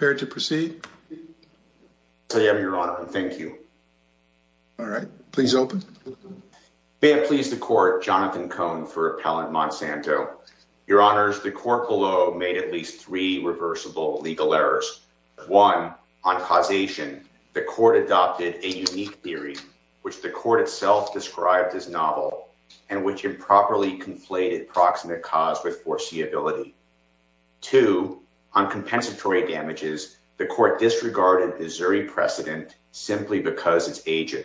May I please the Court, Jonathan Cohn for Appellant Monsanto. Your Honors, the Court below made at least three reversible legal errors. 1. On causation, the Court adopted a unique theory, which the Court itself described as novel and which improperly conflated proximate cause with foreseeability. 2. On compensatory damages, the Court disregarded the Zuri precedent simply because it's aged.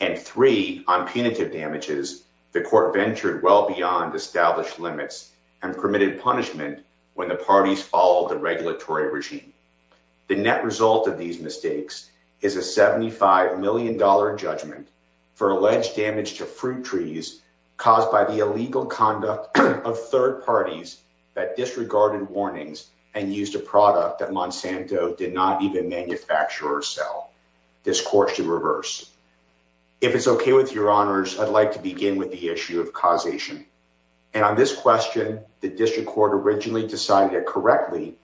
And 3. On punitive damages, the Court ventured well beyond established limits and permitted punishment when the parties followed the regulatory regime. The net result of these mistakes is a $75 million judgment for alleged damage to fruit trees caused by the illegal conduct of third parties that disregarded warnings and used a product that Monsanto did not even manufacture or sell. This Court should reverse. If it's okay with your Honors, I'd like to begin with the issue of causation. And on this question, the District Court originally decided it correctly,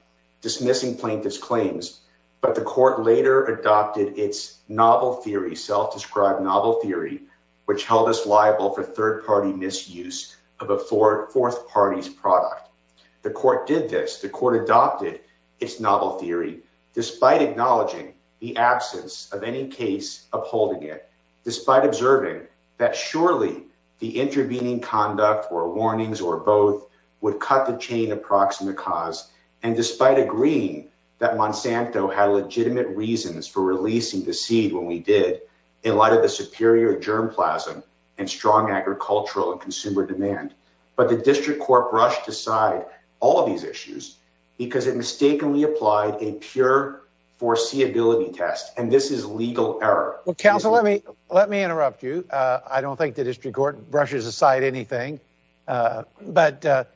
dismissing plaintiff's claims, but the Court later adopted its novel theory, self-described novel theory, which held us liable for third-party misuse of a fourth party's product. The Court did this. The Court adopted its novel theory, despite acknowledging the absence of any case upholding it, despite observing that surely the intervening conduct or warnings or both would cut the chain of proximate cause, and despite agreeing that Monsanto had legitimate reasons for releasing the seed when we did, in light of the superior germ plasm and strong agricultural and consumer demand. But the District Court brushed aside all of these issues because it mistakenly applied a pure foreseeability test. And this is legal error. Well, counsel, let me let me interrupt you. I don't think the District Court brushes aside anything. But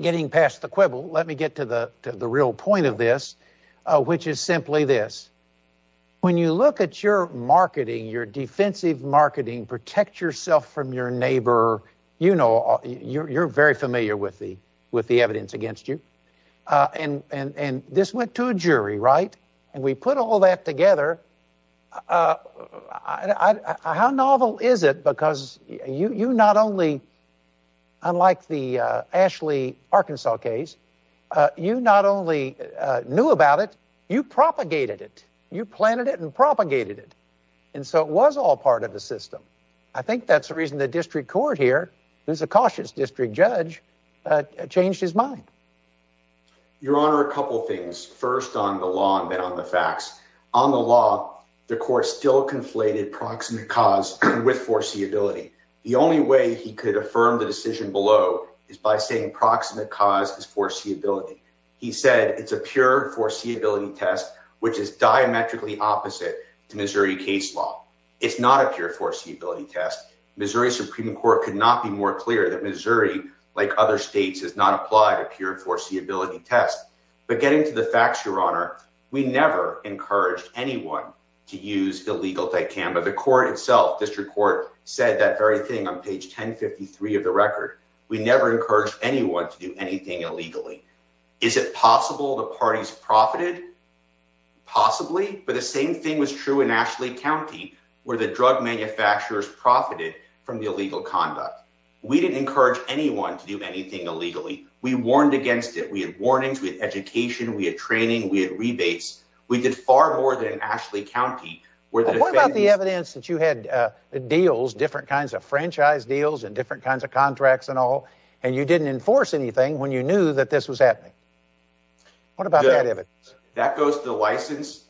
getting past the quibble, let me get to the real point of this, which is simply this. When you look at your marketing, your defensive marketing, protect yourself from your neighbor, you know, you're very familiar with the evidence against you. And this went to a jury, right? And we put all that together. How novel is it? Because you not only, unlike the Ashley Arkansas case, you not only knew about it, you propagated it. You planted it and propagated it. And so it was all part of the system. I think that's the reason the District Court here, who's a cautious district judge, changed his mind. Your Honor, a couple of things, first on the law and then on the facts. On the law, the court still conflated proximate cause with foreseeability. The only way he could affirm the decision below is by saying proximate cause is foreseeability. He said it's a pure foreseeability test, which is diametrically opposite to Missouri case law. It's not a pure foreseeability test. Missouri Supreme Court could not be more clear that Missouri, like other states, has not applied a pure foreseeability test. But getting to the facts, Your Honor, we never encouraged anyone to use illegal dicamba. The court itself, District Court, said that very thing on page 1053 of the record. We never encouraged anyone to do anything illegally. Is it possible the parties profited? Possibly. But the same thing was true in Ashley County, where the drug manufacturers profited from the illegal conduct. We didn't encourage anyone to do anything illegally. We warned against it. We had warnings. We had education. We had training. We had rebates. We did far more than in Ashley County, where the defendants- Well, what about the evidence that you had deals, different kinds of franchise deals and different kinds of contracts and all, and you didn't enforce anything when you knew that this was happening? What about that evidence? That goes to the license.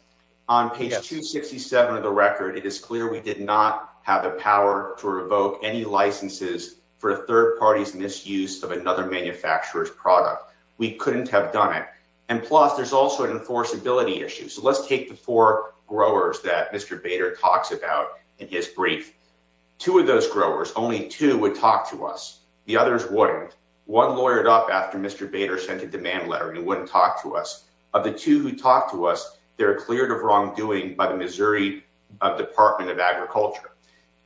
On page 267 of the record, it is clear we did not have the power to revoke any licenses for a third party's misuse of another manufacturer's product. We couldn't have done it. And plus, there's also an enforceability issue. So let's take the four growers that Mr. Bader talks about in his brief. Two of those growers, only two would talk to us. The others wouldn't. One lawyered up after Mr. Bader sent a demand letter, and he wouldn't talk to us. Of the two who talked to us, they were cleared of wrongdoing by the Missouri Department of Agriculture.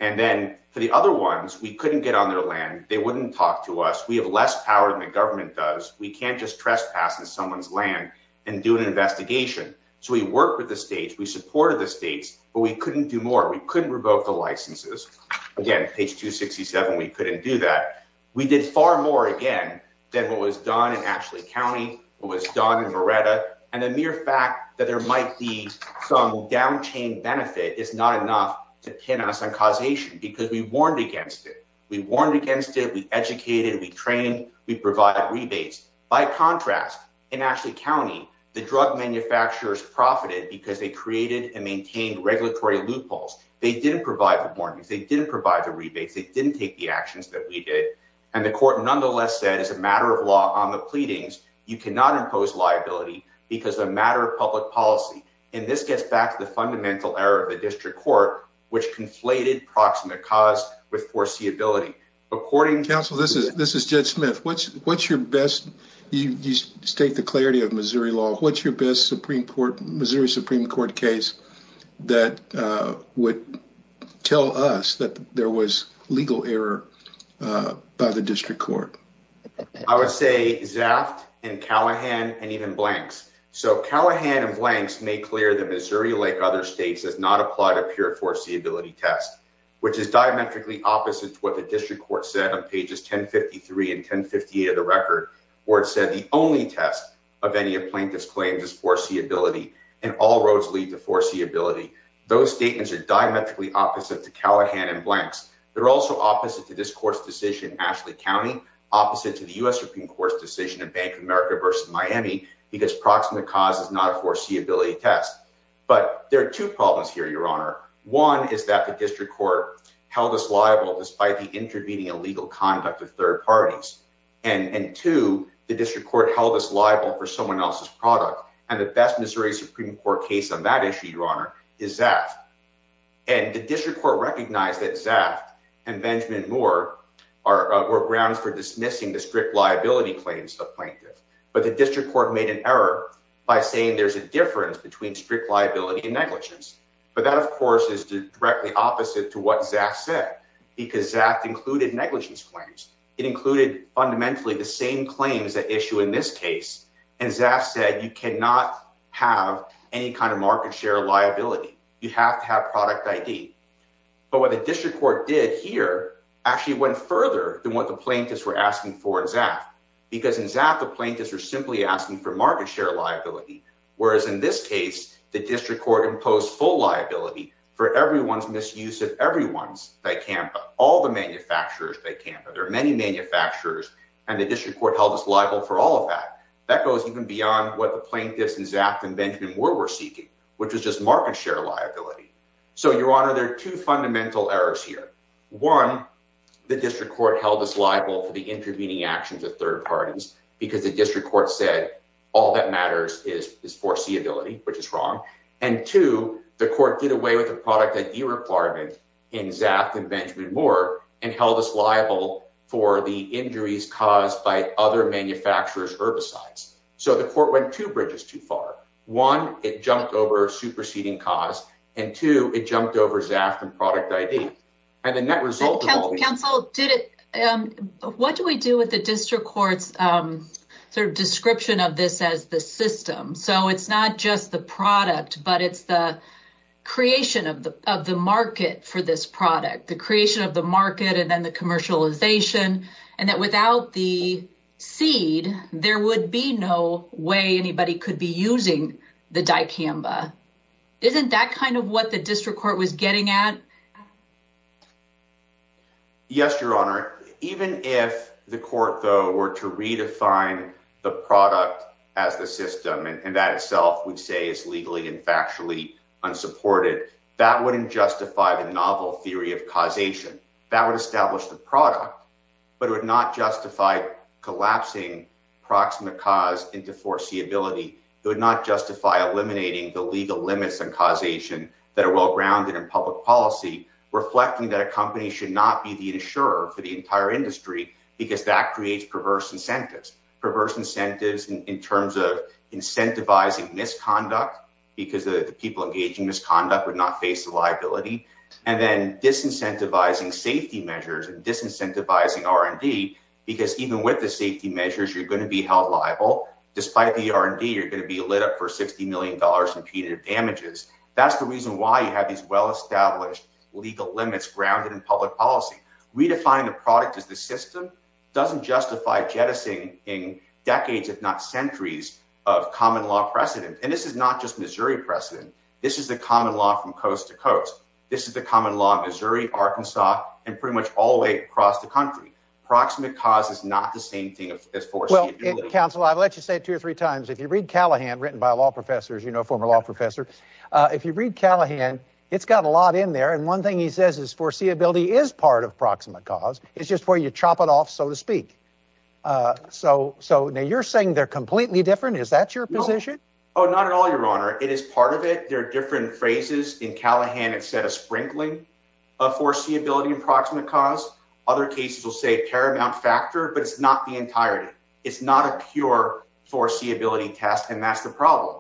And then for the other ones, we couldn't get on their land. They wouldn't talk to us. We have less power than the government does. We can't just trespass in someone's land and do an investigation. So we worked with the states. We supported the states. But we couldn't do more. We couldn't revoke the licenses. Again, page 267, we couldn't do that. We did far more, again, than what was done in Ashley County, what was done in Moretta. And the mere fact that there might be some down-chain benefit is not enough to pin us on causation, because we warned against it. We warned against it. We educated. We trained. We provided rebates. By contrast, in Ashley County, the drug manufacturers profited because they created and maintained regulatory loopholes. They didn't provide the warnings. They didn't provide the rebates. They didn't take the actions that we did. And the court nonetheless said, as a matter of law, on the pleadings, you cannot impose liability because of a matter of public policy. And this gets back to the fundamental error of the district court, which conflated proximate cause with foreseeability. According to— Counsel, this is Judge Smith. What's your best—you state the clarity of Missouri law—what's your best Missouri case that would tell us that there was legal error by the district court? I would say Zaft and Callahan and even Blanks. So Callahan and Blanks made clear that Missouri, like other states, has not applied a pure foreseeability test, which is diametrically opposite to what the district court said on pages 1053 and 1058 of the record, where it said the only test of any plaintiff's claims is foreseeability and all roads lead to foreseeability. Those statements are diametrically opposite to Callahan and Blanks. They're also opposite to this court's decision in Ashley County, opposite to the U.S. Supreme Court's decision in Bank of America versus Miami, because proximate cause is not a foreseeability test. But there are two problems here, Your Honor. One is that the district court held us liable despite the intervening illegal conduct of third parties. And two, the district court held us liable for someone else's product. And the best Missouri Supreme Court case on that issue, Your Honor, is Zaft. And the district court recognized that Zaft and Benjamin Moore were grounds for dismissing the strict liability claims of plaintiffs. But the district court made an error by saying there's a difference between strict liability and negligence. But that, of course, is directly opposite to what Zaft said, because Zaft included negligence claims. It included fundamentally the same claims that issue in this case. And Zaft said you cannot have any kind of market share liability. You have to have product ID. But what the district court did here actually went further than what the plaintiffs were asking for in Zaft, because in Zaft, the plaintiffs are simply asking for market share liability. Whereas in this case, the district court imposed full liability for everyone's misuse of everyone's DICAMPA, all the manufacturers' DICAMPA. There are many manufacturers, and the district court held us liable for all of that. That goes even beyond what the plaintiffs in Zaft and Benjamin Moore were seeking, which was just market share liability. So, Your Honor, there are two fundamental errors here. One, the district court held us liable for the intervening actions of third parties, because the district court said all that matters is foreseeability, which is wrong. And two, the court did away with the product ID requirement in Zaft and Benjamin Moore and held us liable for the injuries caused by other manufacturers' herbicides. So the court went two bridges too far. One, it jumped over superseding cause. And two, it jumped over Zaft and product ID. Counsel, what do we do with the district court's description of this as the system? So it's not just the product, but it's the creation of the market for this product. The creation of the market and then the commercialization. And that without the seed, there would be no way anybody could be using the DICAMPA. Isn't that kind of what the district court was getting at? Yes, Your Honor. Even if the court, though, were to redefine the product as the system, and that itself, we'd say is legally and factually unsupported, that wouldn't justify the novel theory of causation. That would establish the product, but it would not justify collapsing proximate cause into foreseeability. It would not justify eliminating the legal limits on causation that are well-grounded in public policy, reflecting that a company should not be the insurer for the entire industry because that creates perverse incentives. Perverse incentives in terms of incentivizing misconduct because the people engaging misconduct would not face the liability. And then disincentivizing safety measures and disincentivizing R&D because even with the safety measures, you're going to be held liable. Despite the R&D, you're going to be lit up for $60 million in punitive damages. That's the reason why you have these well-established legal limits grounded in public policy. Redefining the product as the system doesn't justify jettisoning decades, if not centuries, of common law precedent. And this is not just Missouri precedent. This is the common law from coast to coast. This is the common law in Missouri, Arkansas, and pretty much all the way across the country. Proximate cause is not the same thing as foreseeability. Counsel, I'll let you say it two or three times. If you read Callahan, written by a law professor, as you know, a former law professor, if you read Callahan, it's got a lot in there. And one thing he says is foreseeability is part of proximate cause. It's just where you chop it off, so to speak. So now you're saying they're completely different? Is that your position? Oh, not at all, Your Honor. It is part of it. There are different phrases. In Callahan, it said a sprinkling of foreseeability in proximate cause. Other cases will say paramount factor, but it's not the entirety. It's not a pure foreseeability test, and that's the problem.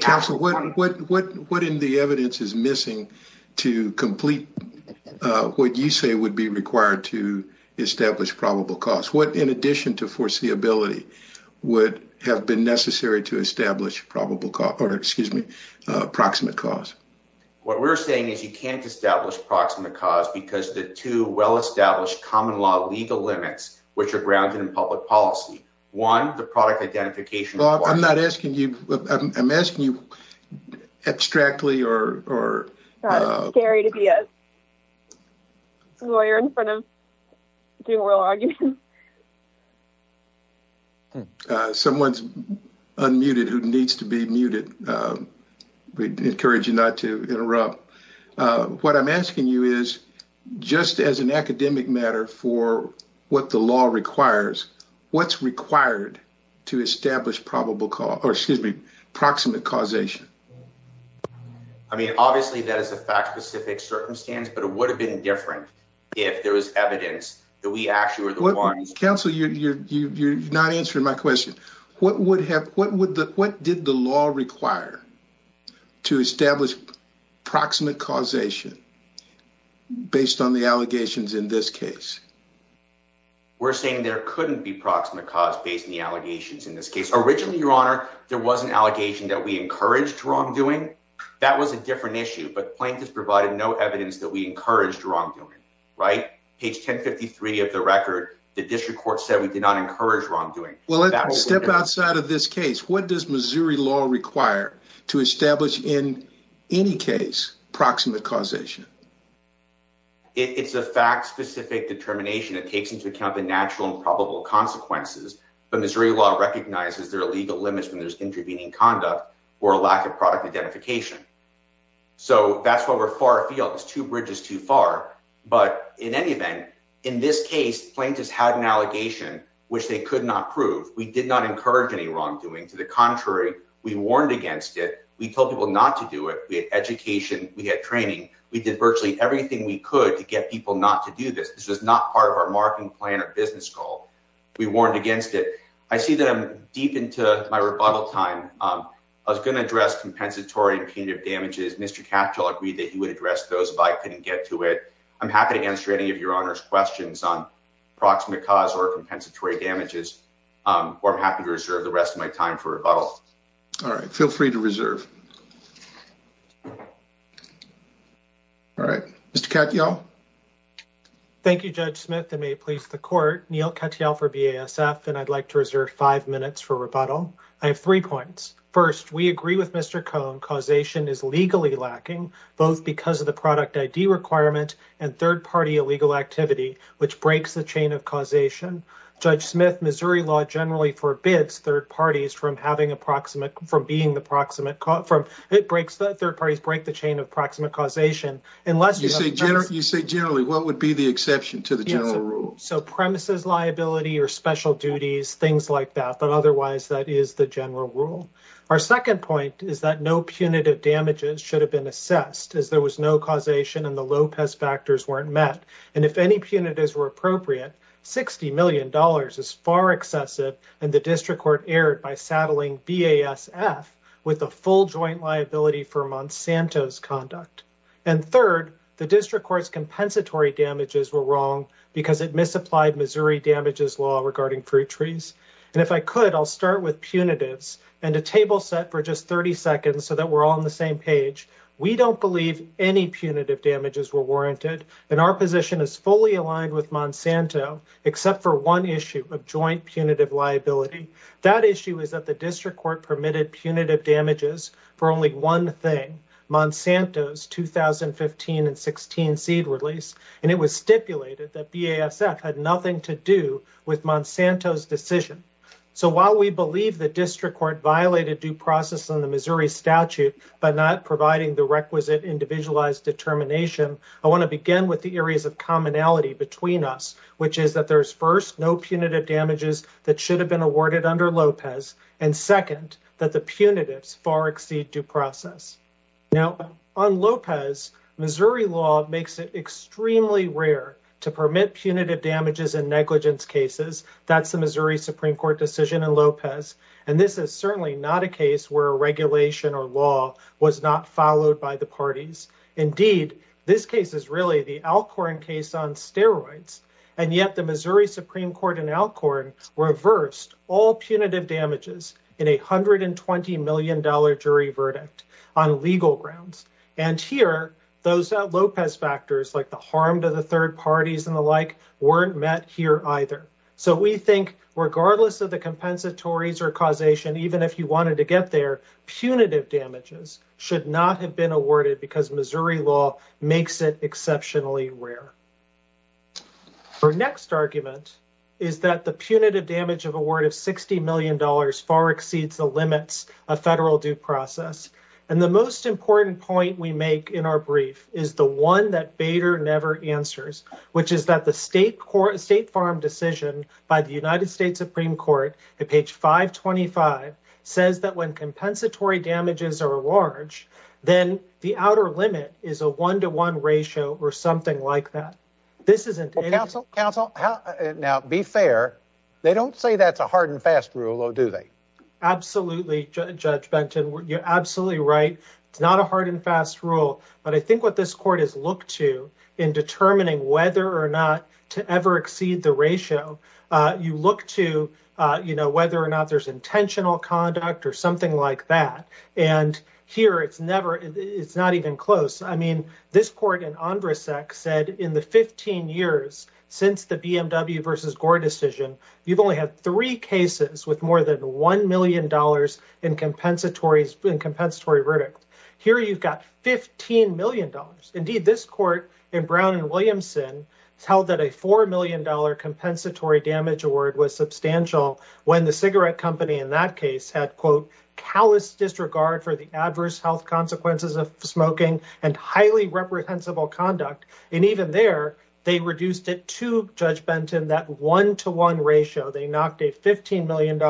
Counsel, what in the evidence is missing to complete what you say would be required to establish probable cause? What, in addition to foreseeability, would have been necessary to establish probable cause or, excuse me, proximate cause? What we're saying is you can't establish proximate cause because the two well-established common law legal limits, which are grounded in public policy. One, the product identification. Well, I'm not asking you. I'm asking you abstractly or. It's scary to be a lawyer in front of doing oral arguments. Someone's unmuted who needs to be muted. We encourage you not to interrupt. What I'm asking you is, just as an academic matter for what the law requires, what's required to establish probable cause or, excuse me, proximate causation? I mean, obviously, that is a fact-specific circumstance, but it would have been different if there was evidence that we actually were the one. Counsel, you're not answering my question. What did the law require to establish proximate causation based on the allegations in this case? We're saying there couldn't be proximate cause based on the allegations in this case. Originally, Your Honor, there was an allegation that we encouraged wrongdoing. That was a different issue, but plaintiffs provided no evidence that we encouraged wrongdoing, right? Page 1053 of the record, the district court said we did not encourage wrongdoing. Well, let's step outside of this case. What does Missouri law require to establish, in any case, proximate causation? It's a fact-specific determination. It takes into account the natural and probable consequences, but Missouri law recognizes there are legal limits when there's intervening conduct or a lack of product identification. So that's why we're far afield. Two bridges too far. But in any event, in this case, plaintiffs had an allegation which they could not prove. We did not encourage any wrongdoing. To the contrary, we warned against it. We told people not to do it. We had education. We had training. We did virtually everything we could to get people not to do this. This was not part of our marketing plan or business goal. We warned against it. I see that I'm deep into my rebuttal time. I was going to address compensatory and punitive damages. Mr. Katyal agreed that he would address those, but I couldn't get to it. I'm happy to answer any of your Honor's questions on proximate cause or compensatory damages, or I'm happy to reserve the rest of my time for rebuttal. All right. Feel free to reserve. All right. Mr. Katyal. Thank you, Judge Smith. It may please the court. Neil Katyal for BASF, and I'd like to reserve five minutes for rebuttal. I have three points. First, we agree with Mr. Cohn. Causation is legally lacking, both because of the product ID requirement and third-party illegal activity, which breaks the chain of causation. Judge Smith, Missouri law generally forbids third parties from being the proximate cause. Third parties break the chain of proximate causation. You say generally. What would be the exception to the general rule? So premises liability or special duties, things like that, but otherwise, that is the general rule. Our second point is that no punitive damages should have been assessed as there was no causation and the Lopez factors weren't met. And if any punitives were appropriate, $60 million is far excessive, and the district court erred by saddling BASF with a full joint liability for Monsanto's conduct. And third, the district court's compensatory damages were wrong because it misapplied Missouri damages law regarding fruit trees. And if I could, I'll start with punitives and a table set for just 30 seconds so that we're all on the same page. We don't believe any punitive damages were warranted, and our position is fully aligned with Monsanto, except for one issue of joint punitive liability. That issue is that the district court permitted punitive damages for only one thing, Monsanto's 2015 and 16 seed release, and it was stipulated that BASF had nothing to do with Monsanto's decision. So while we believe the district court violated due process on the Missouri statute by not providing the requisite individualized determination, I want to begin with the areas of commonality between us, which is that there's first, no punitive damages that should have been awarded under Lopez, and second, that the punitives far exceed due process. Now on Lopez, Missouri law makes it extremely rare to permit punitive damages in negligence cases. That's the Missouri Supreme Court decision in Lopez, and this is certainly not a case where a regulation or law was not followed by the parties. Indeed, this case is really the Alcorn case on steroids, and yet the Missouri Supreme Court in Alcorn reversed all punitive damages in a $120 million jury verdict on legal grounds. And here, those Lopez factors, like the harm to the third parties and the like, weren't met here either. So we think, regardless of the compensatories or causation, even if you wanted to get there, punitive damages should not have been awarded because Missouri law makes it exceptionally rare. Our next argument is that the punitive damage of a word of $60 million far exceeds the limits of federal due process. And the most important point we make in our brief is the one that Bader never answers, which is that the state farm decision by the United States Supreme Court, at page 525, says that when compensatory damages are large, then the outer limit is a one-to-one ratio or something like that. This isn't anything- Counsel, counsel, now be fair. They don't say that's a hard and fast rule, though, do they? Absolutely, Judge Benton. You're absolutely right. It's not a hard and fast rule. But I think what this court has looked to in determining whether or not to ever exceed the ratio, you look to whether or not there's intentional conduct or something like that. And here, it's not even close. I mean, this court in Andrasek said in the 15 years since the BMW versus Gore decision, you've only had three cases with more than $1 million in compensatory verdict. Here, you've got $15 million. Indeed, this court in Brown and Williamson held that a $4 million compensatory damage award was substantial when the cigarette company in that case had, quote, callous disregard for the adverse health consequences of smoking and highly reprehensible conduct. And even there, they reduced it to, Judge Benton, that one-to-one ratio. They knocked a $15 million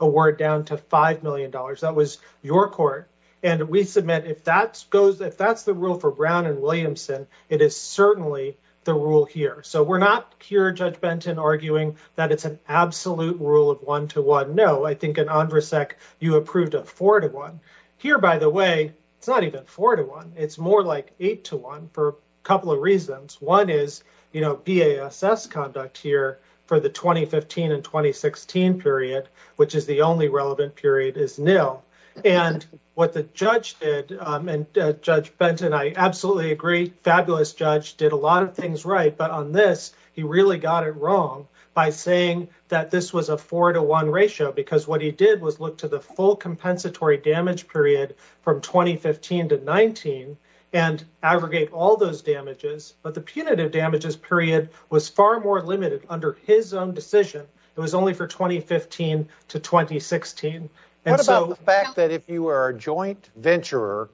award down to $5 million. That was your court. And we submit if that's the rule for Brown and Williamson, it is certainly the rule here. So we're not here, Judge Benton, arguing that it's an absolute rule of one-to-one. No, I think in Andrasek, you approved a four-to-one. Here, by the way, it's not even four-to-one. It's more like eight-to-one for a couple of reasons. One is BASS conduct here for the 2015 and 2016 period, which is the only relevant period is nil. And what the judge did, and Judge Benton, I absolutely agree, fabulous judge, did a lot of things right. But on this, he really got it wrong by saying that this was a four-to-one ratio because what he did was look to the full compensatory damage period from 2015 to 19 and aggregate all those damages. But the punitive damages period was far more limited under his own decision. It was only for 2015 to 2016. What about the fact that if you are a joint venturer,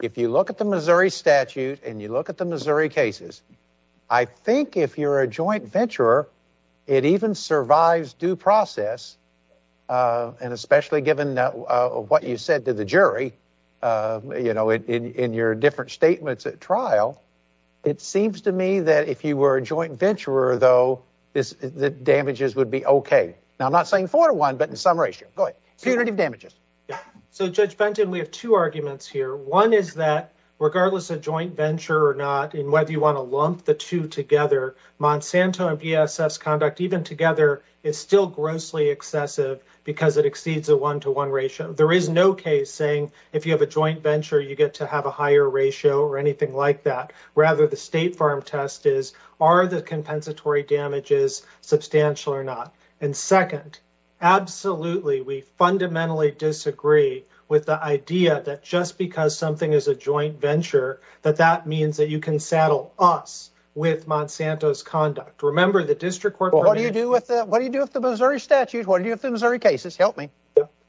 if you look at the Missouri statute and you look at the Missouri cases, I think if you're a joint venturer, it even survives due process. And especially given what you said to the jury, you know, in your different statements at trial, it seems to me that if you were a joint venturer, though, the damages would be OK. Now, I'm not saying four-to-one, but in some ratio. Go ahead. Punitive damages. So, Judge Benton, we have two arguments here. One is that regardless of joint venture or not, and whether you want to lump the two together, Monsanto and BSS conduct even together is still grossly excessive because it exceeds a one-to-one ratio. There is no case saying if you have a joint venture, you get to have a higher ratio or anything like that. Rather, the State Farm test is, are the compensatory damages substantial or not? And second, absolutely. We fundamentally disagree with the idea that just because something is a joint venture, that that means that you can saddle us with Monsanto's conduct. Remember, the district court. What do you do with that? What do you do with the Missouri statute? What do you have to Missouri cases? Help me.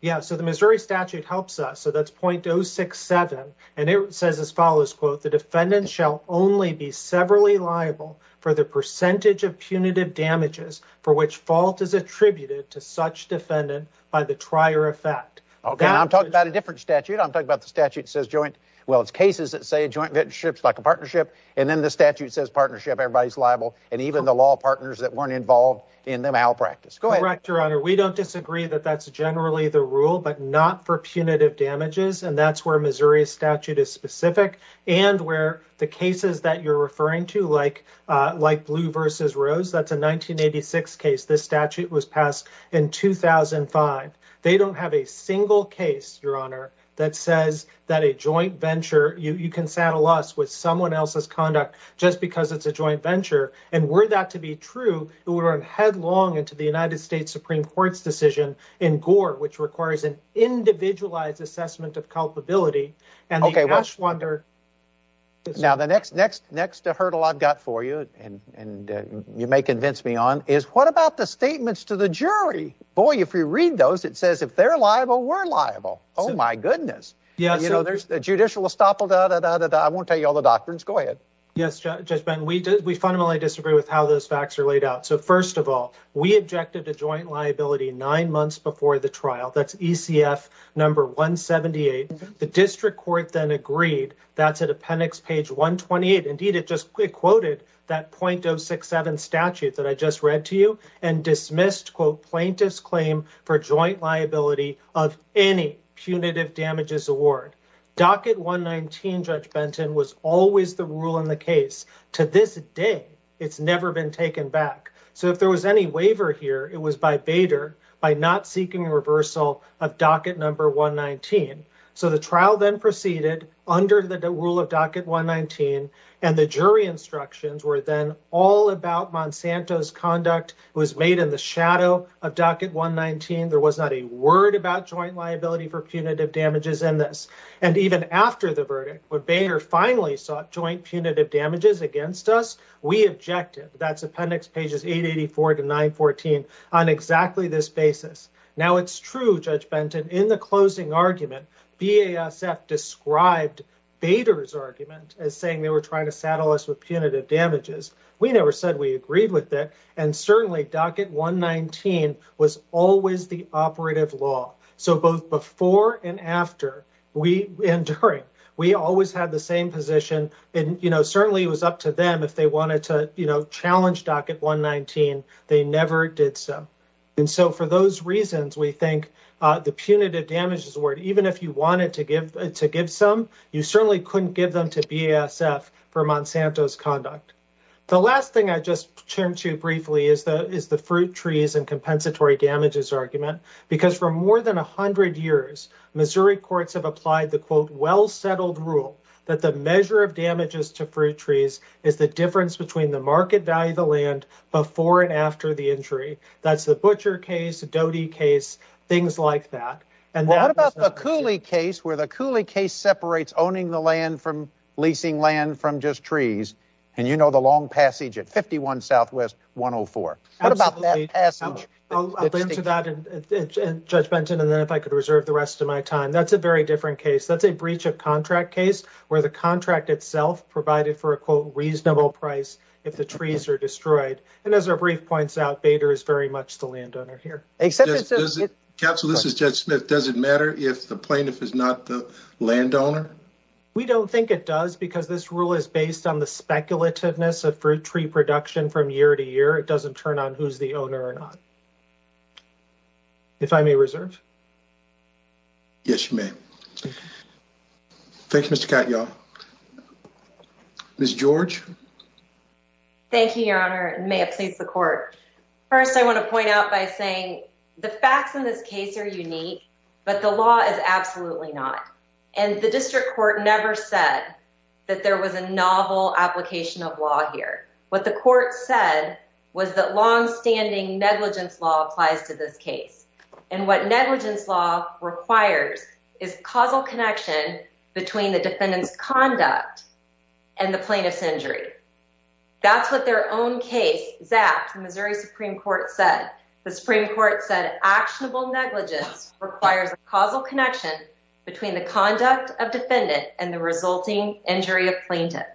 Yeah. So the Missouri statute helps us. So that's 0.067. And it says as follows, quote, the defendant shall only be severally liable for the percentage of punitive damages for which fault is attributed to such defendant by the trier effect. Okay. I'm talking about a different statute. I'm talking about the statute says joint. Well, it's cases that say joint ventureships like a partnership. And then the statute says partnership, everybody's liable. And even the law partners that weren't involved in the malpractice. Go ahead, Your Honor. We don't disagree that that's generally the rule, but not for punitive damages. And that's where Missouri statute is specific and where the cases that you're referring to like like Blue versus Rose, that's a 1986 case. This statute was passed in 2005. They don't have a single case, Your Honor, that says that a joint venture you can saddle us with someone else's conduct just because it's a joint venture. And were that to be true, it would run headlong into the United States Supreme Court's decision in Gore, which requires an individualized assessment of culpability. Okay. Now, the next hurdle I've got for you, and you may convince me on, is what about the statements to the jury? Boy, if you read those, it says if they're liable, we're liable. Oh, my goodness. There's a judicial estoppel. I won't tell you all the doctrines. Go ahead. Yes, Judge Ben, we fundamentally disagree with how those facts are laid out. So, first of all, we objected to joint liability nine months before the trial. That's ECF number 178. The district court then agreed. That's at appendix page 128. Indeed, it just quoted that .067 statute that I just read to you and dismissed, quote, plaintiff's claim for joint liability of any punitive damages award. Docket 119, Judge Benton, was always the rule in the case. To this day, it's never been taken back. So if there was any waiver here, it was by Bader by not seeking reversal of docket number 119. So the trial then proceeded under the rule of docket 119, and the jury instructions were then all about Monsanto's conduct. It was made in the shadow of docket 119. There was not a word about joint liability for punitive damages in this. And even after the verdict, when Bader finally sought joint punitive damages against us, we objected. That's appendix pages 884 to 914 on exactly this basis. Now, it's true, Judge Benton, in the closing argument, BASF described Bader's argument as saying they were trying to saddle us with punitive damages. We never said we agreed with that. And certainly, docket 119 was always the operative law. So both before and after, and during, we always had the same position. And certainly, it was up to them if they wanted to challenge docket 119. They never did so. And so for those reasons, we think the punitive damages award, even if you wanted to give some, you certainly couldn't give them to BASF for Monsanto's conduct. The last thing I just turned to briefly is the fruit trees and compensatory damages argument. Because for more than 100 years, Missouri courts have applied the, quote, well-settled rule that the measure of damages to fruit trees is the difference between the market value of the land before and after the injury. That's the Butcher case, the Doty case, things like that. And that was not the case. Well, what about the Cooley case, where the Cooley case separates owning the land from leasing land from just trees? And you know the long passage at 51 Southwest, 104. What about that passage? I'll get into that, Judge Benton, and then if I could reserve the rest of my time. That's a very different case. That's a breach of contract case, where the contract itself provided for a, quote, reasonable price if the trees are destroyed. And as our brief points out, Bader is very much the landowner here. Counsel, this is Judge Smith. Does it matter if the plaintiff is not the landowner? We don't think it does, because this rule is based on the speculativeness of fruit tree production from year to year. It doesn't turn on who's the owner or not. If I may reserve? Yes, you may. Thank you, Mr. Catt, y'all. Ms. George? Thank you, Your Honor. May it please the court. First, I want to point out by saying the facts in this case are unique, but the law is absolutely not. And the district court never said that there was a novel application of law here. What the court said was that longstanding negligence law applies to this case. And what negligence law requires is causal connection between the defendant's conduct and the plaintiff's injury. That's what their own case zapped. The Missouri Supreme Court said. The Supreme Court said actionable negligence requires a causal connection between the conduct of defendant and the resulting injury of plaintiff.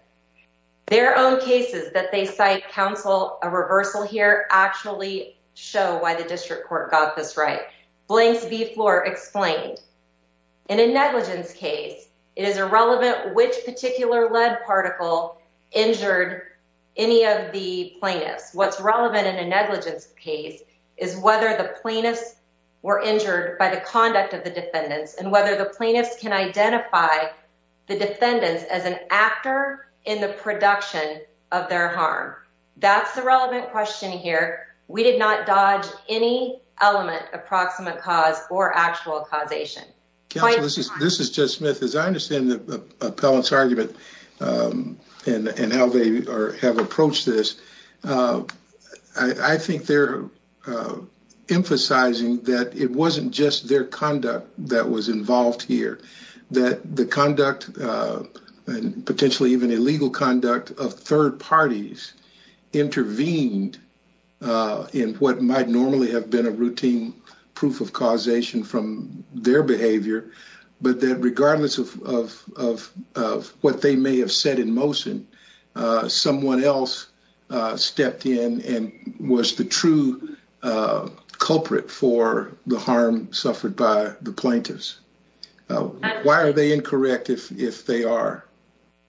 Their own cases that they cite counsel a reversal here actually show why the district court got this right. Blanks v. Floor explained. In a negligence case, it is irrelevant which particular lead particle injured any of the plaintiffs. What's relevant in a negligence case is whether the plaintiffs were injured by the conduct of the defendants and whether the plaintiffs can identify the defendants as an actor in the production of their harm. That's the relevant question here. We did not dodge any element of proximate cause or actual causation. This is Judge Smith. As I understand the appellant's argument and how they have approached this, I think they're emphasizing that it wasn't just their conduct that was involved here. The conduct and potentially even illegal conduct of third parties intervened in what might normally have been a routine proof of causation from their behavior, but that regardless of what they may have said in motion, someone else stepped in and was the true culprit for the harm suffered by the plaintiffs. Why are they incorrect if they are?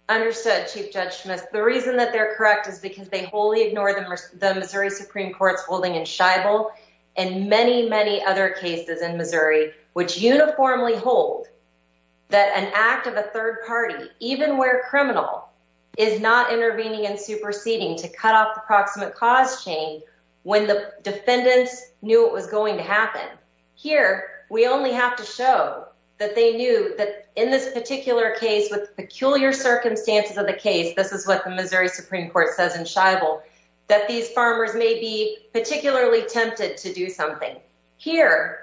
Understood, Chief Judge Smith. The reason that they're correct is because they wholly ignore the Missouri Supreme Court's holding in Shible and many, many other cases in Missouri which uniformly hold that an act of a third party, even where criminal, is not intervening and superseding to cut off the proximate cause chain when the defendants knew it was going to happen. Here, we only have to show that they knew that in this particular case with peculiar circumstances of the case, this is what the Missouri Supreme Court says in Shible, that these farmers may be particularly tempted to do something. Here,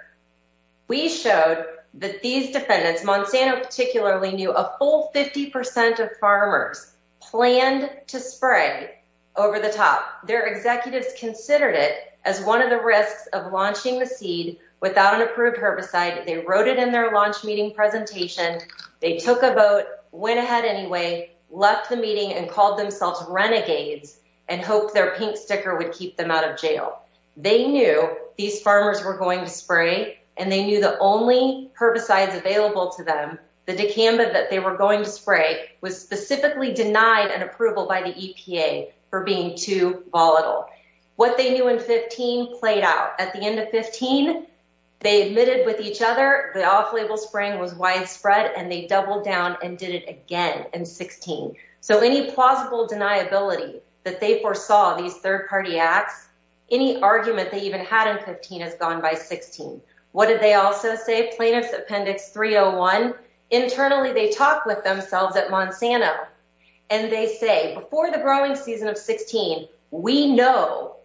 we showed that these defendants, Monsanto particularly, knew a full 50 percent of farmers planned to spray over the top. Their executives considered it as one of the risks of launching the seed without an approved herbicide. They wrote it in their launch meeting presentation. They took a boat, went ahead anyway, left the meeting and called themselves renegades and hoped their pink sticker would keep them out of jail. They knew these farmers were going to spray and they knew the only herbicides available to them, the dicamba that they were going to spray, was specifically denied an approval by the EPA for being too volatile. What they knew in 15 played out. At the end of 15, they admitted with each other the off-label spraying was widespread and they doubled down and did it again in 16. So, any plausible deniability that they foresaw these third-party acts, any argument they even had in 15 has gone by 16. What did they also say? Plaintiff's Appendix 301. Internally, they talked with themselves at Monsanto and they say, before the growing season of 16, we know,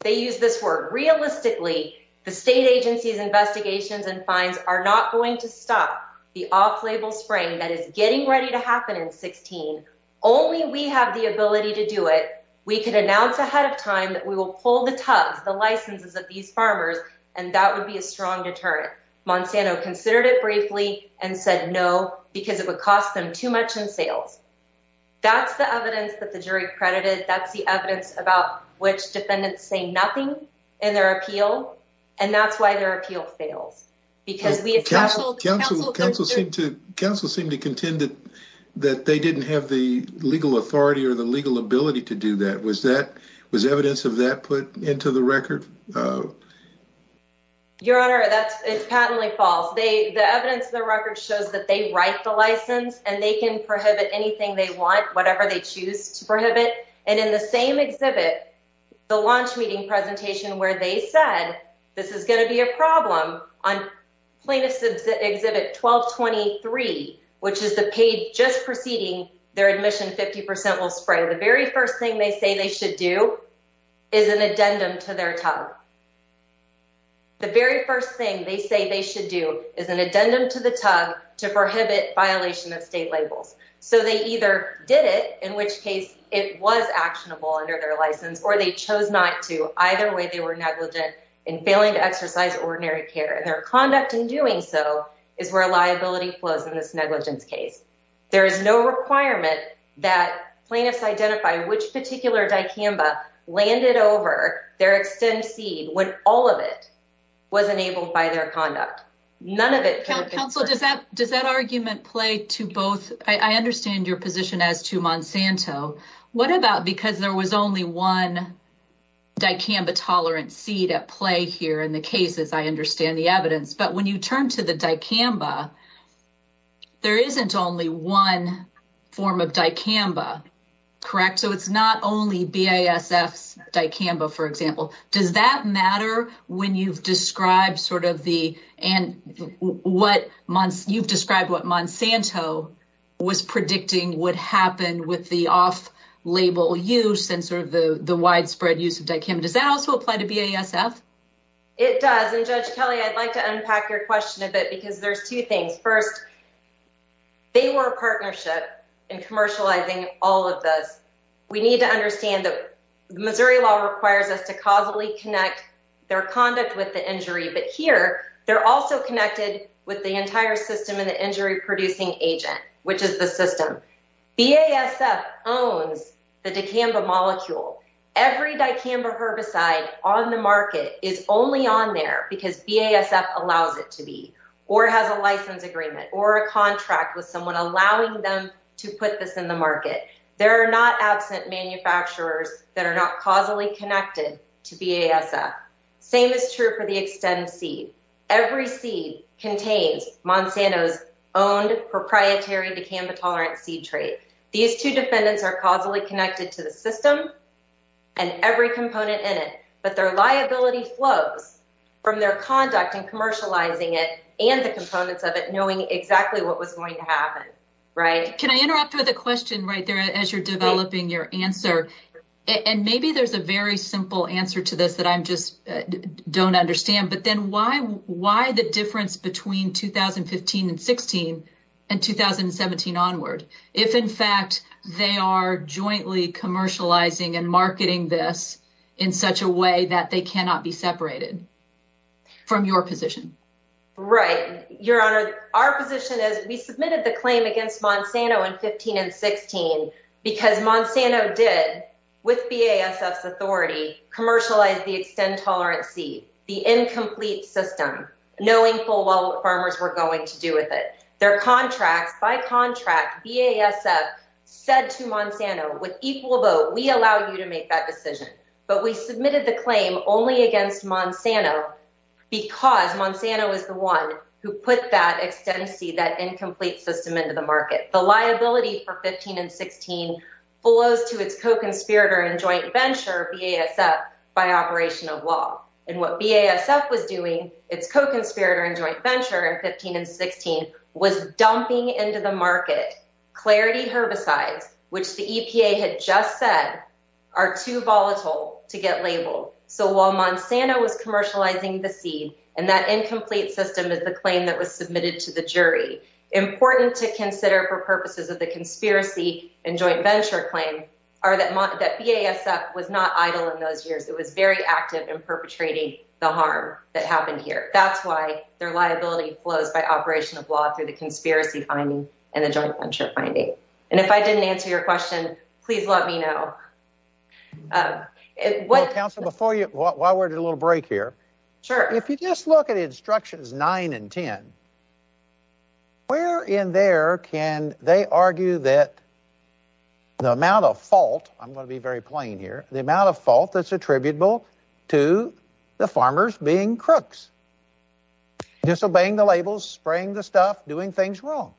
they use this word realistically, the state agency's investigations and fines are not going to stop the off-label spraying that is getting ready to happen in 16. Only we have the ability to do it. We could announce ahead of time that we will pull the tugs, the licenses of these farmers and that would be a strong deterrent. Monsanto considered it briefly and said no because it would cost them too much in sales. That's the evidence that the jury credited. That's the evidence about which defendants say nothing in their appeal and that's why their appeal fails. Counsel seemed to contend that they didn't have the legal authority or the legal ability to do that. Was evidence of that put into the record? No. Your Honor, it's patently false. The evidence in the record shows that they write the license and they can prohibit anything they want, whatever they choose to prohibit. And in the same exhibit, the launch meeting presentation where they said this is going to be a problem on plaintiff's exhibit 1223, which is the page just preceding their admission 50% will spray. The very first thing they say they should do is an addendum to their top. The very first thing they say they should do is an addendum to the tub to prohibit violation of state labels. So they either did it, in which case it was actionable under their license, or they chose not to. Either way, they were negligent in failing to exercise ordinary care and their conduct in doing so is where liability flows in this negligence case. There is no requirement that plaintiffs identify which particular dicamba landed over their extended seed when all of it was enabled by their conduct. None of it. Does that argument play to both? I understand your position as to Monsanto. What about because there was only one dicamba tolerant seed at play here in the cases? I understand the evidence. When you turn to the dicamba, there isn't only one form of dicamba, correct? It's not only BASF's dicamba, for example. Does that matter when you've described what Monsanto was predicting would happen with the off-label use and the widespread use of dicamba? Does that also apply to BASF? It does. Judge Kelly, I'd like to unpack your question a bit because there's two things. First, they were a partnership in commercializing all of this. We need to understand that Missouri law requires us to causally connect their conduct with the injury, but here they're also connected with the entire system and the injury producing agent, which is the system. BASF owns the dicamba molecule. Every dicamba herbicide on the market is only on there because BASF allows it to be, or has a license agreement, or a contract with someone allowing them to put this in the market. There are not absent manufacturers that are not causally connected to BASF. Same is true for the extended seed. Every seed contains Monsanto's owned proprietary dicamba tolerant seed trade. These two defendants are causally connected to the system and every component in it, but their liability flows from their conduct in commercializing it and the components of it knowing exactly what was going to happen. Can I interrupt with a question right there as you're developing your answer? Maybe there's a very simple answer to this that I just don't understand, but then why the difference between 2015 and 2016 and 2017 onward? If, in fact, they are jointly commercializing and marketing this in such a way that they cannot be separated from your position. Right. Your Honor, our position is we submitted the claim against Monsanto in 2015 and 2016 because Monsanto did, with BASF's authority, commercialize the extend tolerant seed, the incomplete system, knowing full well what farmers were going to do with it. Their contracts, by contract, BASF said to Monsanto with equal vote, we allow you to make that decision. But we submitted the claim only against Monsanto because Monsanto was the one who put that extend seed, that incomplete system into the market. The liability for 15 and 16 flows to its co-conspirator and joint venture, BASF, by operation of law. And what BASF was doing, its co-conspirator and joint venture in 15 and 16, was dumping into the market clarity herbicides, which the EPA had just said are too volatile to get labeled. So while Monsanto was commercializing the seed and that incomplete system is the claim that was submitted to the jury, important to consider for purposes of the conspiracy and joint venture claim are that BASF was not idle in those years. It was very active in perpetrating the harm that happened here. That's why their liability flows by operation of law through the conspiracy finding and the joint venture finding. And if I didn't answer your question, please let me know. Well, counsel, before you, while we're at a little break here, if you just look at instructions 9 and 10, where in there can they argue that the amount of fault, I'm going to be very plain here, the amount of fault that's attributable to the farmers being crooks, disobeying the labels, spraying the stuff, doing things wrong.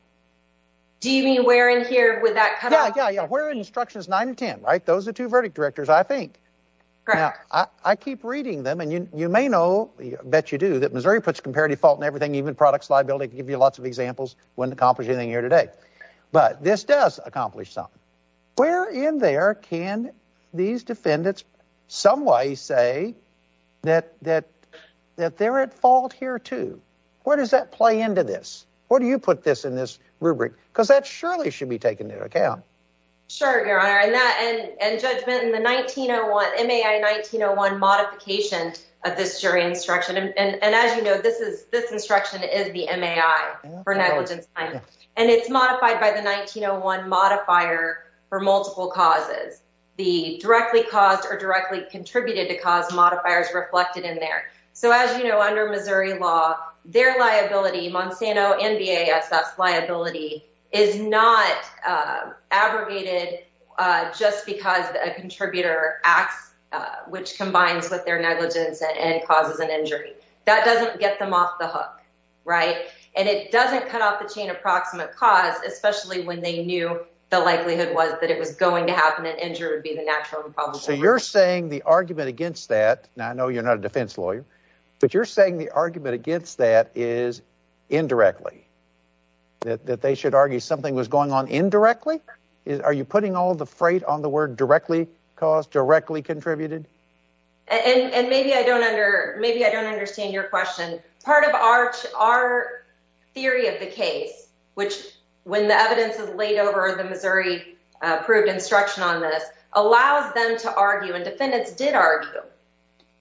Do you mean where in here would that come out? Yeah, yeah, yeah. Where in instructions 9 and 10, right? Those are two verdict directors, I think. Correct. Now, I keep reading them, and you may know, I bet you do, that Missouri puts comparative fault in everything, even products liability. I could give you lots of examples, wouldn't accomplish anything here today. But this does accomplish something. Where in there can these defendants someway say that they're at fault here, too? Where does that play into this? Where do you put this in this rubric? Because that surely should be taken into account. Sure, Your Honor. And judgment in the MAI 1901 modification of this jury instruction. And as you know, this instruction is the MAI for negligence time. And it's modified by the 1901 modifier for multiple causes. The directly caused or directly contributed to cause modifiers reflected in there. So as you know, under Missouri law, their liability, Monsanto and BASS liability, is not abrogated just because a contributor acts, which combines with their negligence and causes an injury. That doesn't get them off the hook, right? And it doesn't cut off the chain approximate cause, especially when they knew the likelihood was that it was going to happen. An injury would be the natural and probable. So you're saying the argument against that, and I know you're not a defense lawyer, but you're saying the argument against that is indirectly. That they should argue something was going on indirectly? Are you putting all the freight on the word directly caused, directly contributed? And maybe I don't under maybe I don't understand your question. Part of our theory of the case, which when the evidence is laid over the Missouri approved instruction on this, allows them to argue and defendants did argue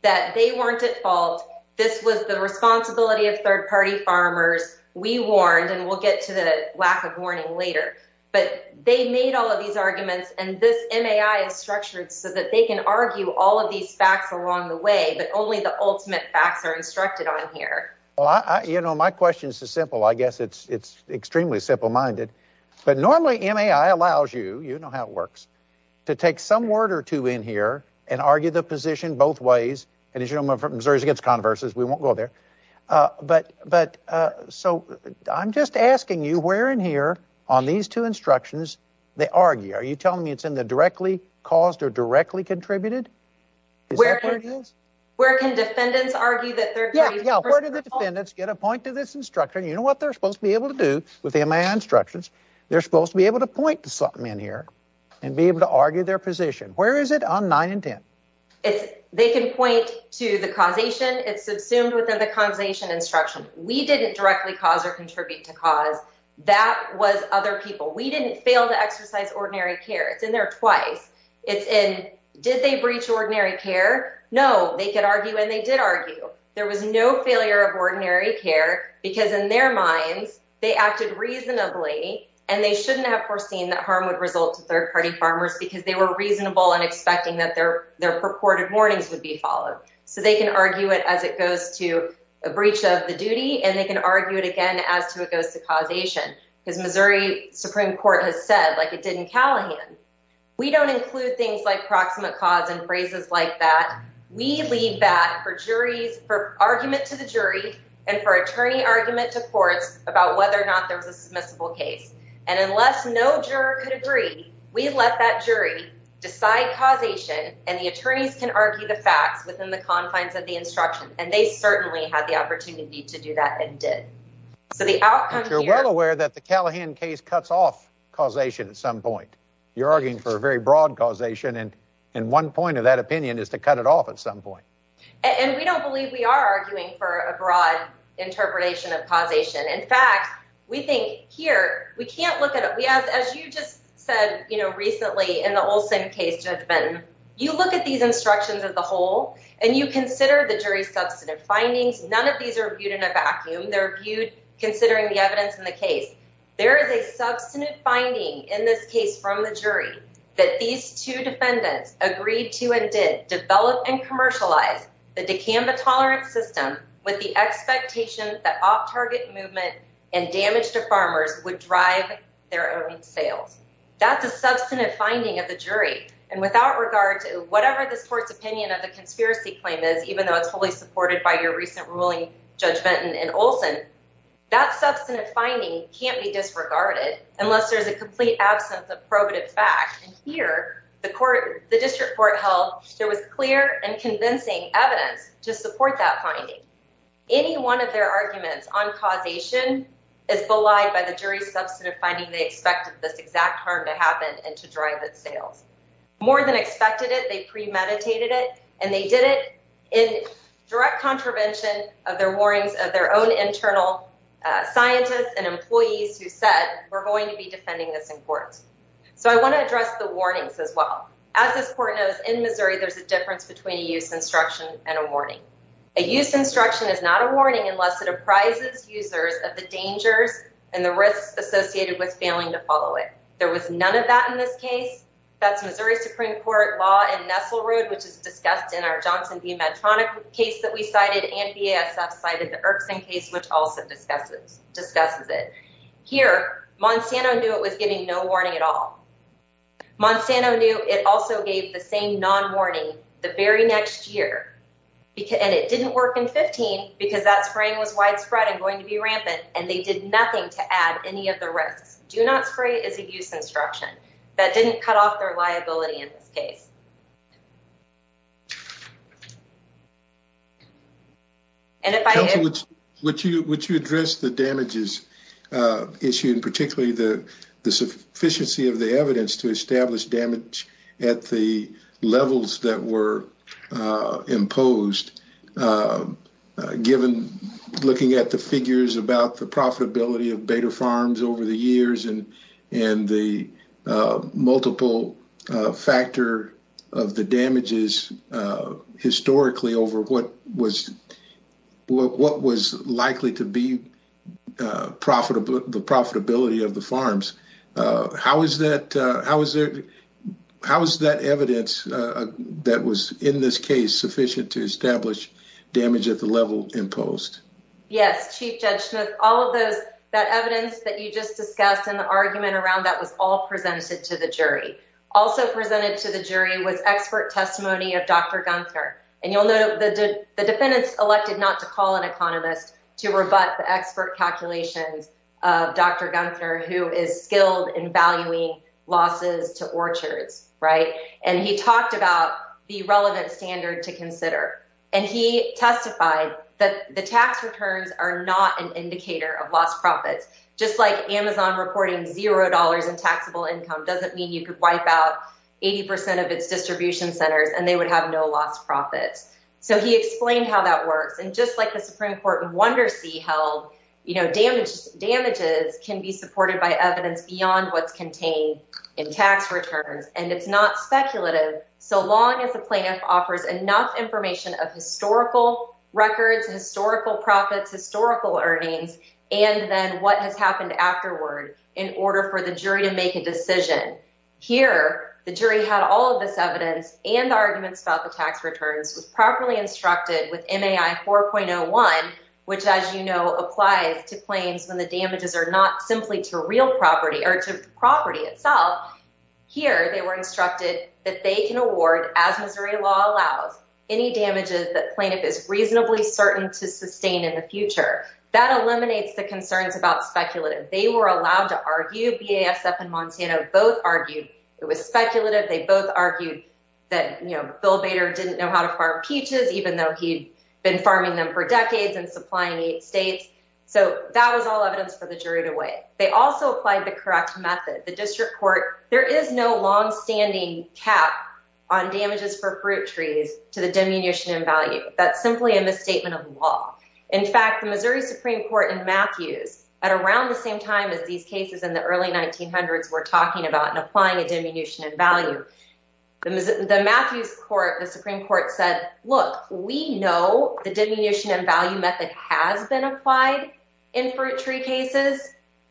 that they weren't at fault. This was the responsibility of third party farmers. We warned and we'll get to the lack of warning later, but they made all of these arguments and this MAI is structured so that they can argue all of these facts along the way. But only the ultimate facts are instructed on here. Well, you know, my question is simple. I guess it's it's extremely simple minded. But normally MAI allows you, you know how it works, to take some word or two in here and argue the position both ways. And as you know, Missouri's against controversies. We won't go there. But but so I'm just asking you where in here on these two instructions they argue. Are you telling me it's in the directly caused or directly contributed? Where where can defendants argue that? Yeah, yeah. Where did the defendants get a point to this instruction? You know what they're supposed to be able to do with the MAI instructions. They're supposed to be able to point to something in here and be able to argue their position. Where is it on nine and 10? They can point to the causation. It's assumed within the causation instruction. We didn't directly cause or contribute to cause. That was other people. We didn't fail to exercise ordinary care. It's in there twice. It's in. Did they breach ordinary care? No, they could argue and they did argue. There was no failure of ordinary care because in their minds they acted reasonably and they shouldn't have foreseen that harm would result to third party farmers because they were reasonable and expecting that their their purported warnings would be followed so they can argue it as it goes to a breach of the duty and they can argue it again as to it goes to causation because Missouri Supreme Court has said like it did in Callahan. We don't include things like proximate cause and phrases like that. We leave that for juries for argument to the jury and for attorney argument to courts about whether or not there was a submissible case. And unless no juror could agree, we let that jury decide causation and the attorneys can argue the facts within the confines of the instruction. And they certainly had the opportunity to do that and did. So the outcome. You're well aware that the Callahan case cuts off causation at some point. You're arguing for a very broad causation and in one point of that opinion is to cut it off at some point. And we don't believe we are arguing for a broad interpretation of causation. In fact, we think here we can't look at it. We have, as you just said, you know, recently in the Olson case, Judge Benton, you look at these instructions of the whole and you consider the jury substantive findings. None of these are viewed in a vacuum. They're viewed considering the evidence in the case. There is a substantive finding in this case from the jury that these two defendants agreed to and did develop and commercialize the decamba tolerance system with the expectation that off target movement and damage to farmers would drive their own sales. That's a substantive finding of the jury. And without regard to whatever this court's opinion of the conspiracy claim is, even though it's fully supported by your recent ruling, Judge Benton and Olson, that substantive finding can't be disregarded unless there's a complete absence of probative fact. And here the court, the district court held there was clear and convincing evidence to support that finding. Any one of their arguments on causation is belied by the jury's substantive finding. They expected this exact harm to happen and to drive its sales more than expected it. They premeditated it and they did it in direct contravention of their warnings of their own internal scientists and employees who said we're going to be defending this in court. So I want to address the warnings as well. As this court knows, in Missouri, there's a difference between a use instruction and a warning. A use instruction is not a warning unless it apprises users of the dangers and the risks associated with failing to follow it. There was none of that in this case. That's Missouri Supreme Court law in Nestle Road, which is discussed in our Johnson v. case, which also discusses it. Here, Monsanto knew it was giving no warning at all. Monsanto knew it also gave the same non-warning the very next year. And it didn't work in 15 because that spraying was widespread and going to be rampant and they did nothing to add any of the risks. Do not spray is a use instruction. That didn't cut off their liability in this case. And if I would, would you address the damages issue and particularly the sufficiency of the evidence to establish damage at the levels that were imposed, given looking at the figures about the profitability of beta farms over the years and the multiple factor damage that of the damages historically over what was what was likely to be profitable, the profitability of the farms. How is that? How is it? How is that evidence that was in this case sufficient to establish damage at the level imposed? Yes, Chief Judge Smith, all of those that evidence that you just discussed in the argument around that was all presented to the jury. Also presented to the jury was expert testimony of Dr. Gunther. And you'll note that the defendants elected not to call an economist to rebut the expert calculations of Dr. Gunther, who is skilled in valuing losses to orchards. Right. And he talked about the relevant standard to consider. And he testified that the tax returns are not an indicator of lost profits, just like 80 percent of its distribution centers and they would have no lost profits. So he explained how that works. And just like the Supreme Court in Wondersea held, you know, damage damages can be supported by evidence beyond what's contained in tax returns. And it's not speculative. So long as the plaintiff offers enough information of historical records, historical profits, historical earnings, and then what has happened afterward in order for the jury to make a decision. Here, the jury had all of this evidence and arguments about the tax returns was properly instructed with MAI 4.01, which, as you know, applies to claims when the damages are not simply to real property or to property itself. Here, they were instructed that they can award, as Missouri law allows, any damages that plaintiff is reasonably certain to sustain in the future. That eliminates the concerns about speculative. They were allowed to argue. BASF and Montana both argued it was speculative. They both argued that, you know, Bill Bader didn't know how to farm peaches, even though he'd been farming them for decades and supplying eight states. So that was all evidence for the jury to weigh. They also applied the correct method. The district court. There is no longstanding cap on damages for fruit trees to the diminution in value. That's simply a misstatement of law. In fact, the Missouri Supreme Court in Matthews at around the same time as these cases in the early 1900s were talking about applying a diminution in value. The Matthews court, the Supreme Court said, look, we know the diminution in value method has been applied in fruit tree cases.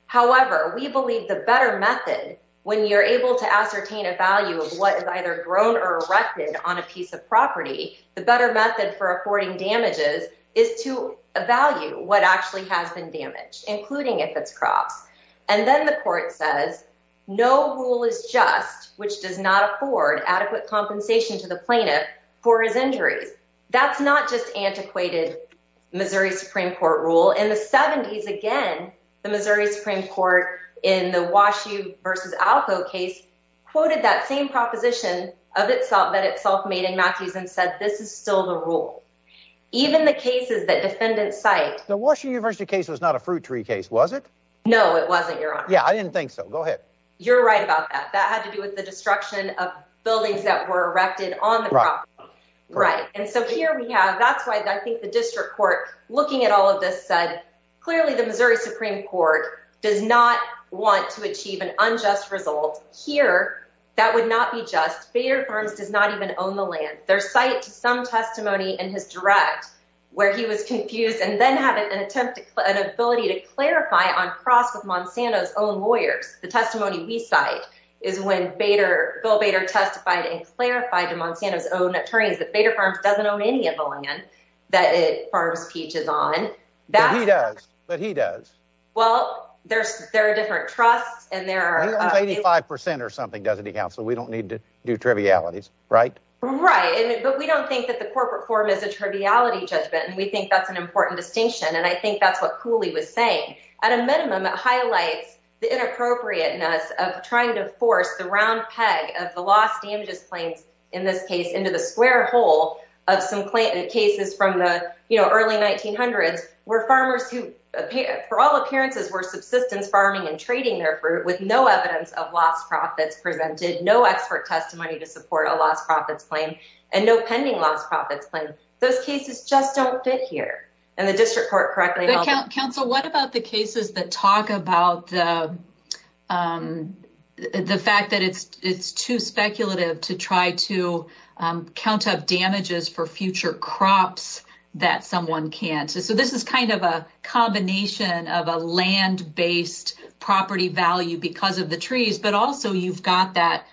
However, we believe the better method when you're able to ascertain a value of what is either grown or erected on a piece of property, the better method for affording damages is to value what actually has been damaged, including if it's crops. And then the court says no rule is just which does not afford adequate compensation to the plaintiff for his injuries. That's not just antiquated Missouri Supreme Court rule in the 70s. Again, the Missouri Supreme Court in the Wash U versus Alco case quoted that same proposition of itself that itself made in Matthews and said this is still the rule. Even the cases that defendants cite, the Washington University case was not a fruit tree case, was it? No, it wasn't. You're on. Yeah, I didn't think so. Go ahead. You're right about that. That had to do with the destruction of buildings that were erected on the right. And so here we have that's why I think the district court looking at all of this said, clearly, the Missouri Supreme Court does not want to achieve an unjust result here. That would not be just fair firms does not even own the land. Their site, some testimony in his direct where he was confused and then have an attempt to an ability to clarify on cross with Monsanto's own lawyers. The testimony we cite is when Bader, Bill Bader testified and clarified to Monsanto's own attorneys that Bader Farms doesn't own any of the land that it farms peaches on. That he does. But he does. Well, there's there are different trusts and there are 85 percent or something, doesn't he, counsel? We don't need to do trivialities, right? Right. But we don't think that the corporate form is a triviality judgment. And we think that's an important distinction. And I think that's what Cooley was saying. At a minimum, it highlights the inappropriateness of trying to force the round peg of the lost damages claims in this case into the square hole of some cases from the early 1900s where farmers who for all appearances were subsistence farming and trading their fruit with no evidence of lost profits presented no expert testimony to support a lost profits claim and no pending lost profits claim. Those cases just don't fit here. And the district court correctly. Counsel, what about the cases that talk about the fact that it's it's too speculative to try to count up damages for future crops that someone can't. So this is kind of a combination of a land based property value because of the trees, but also you've got that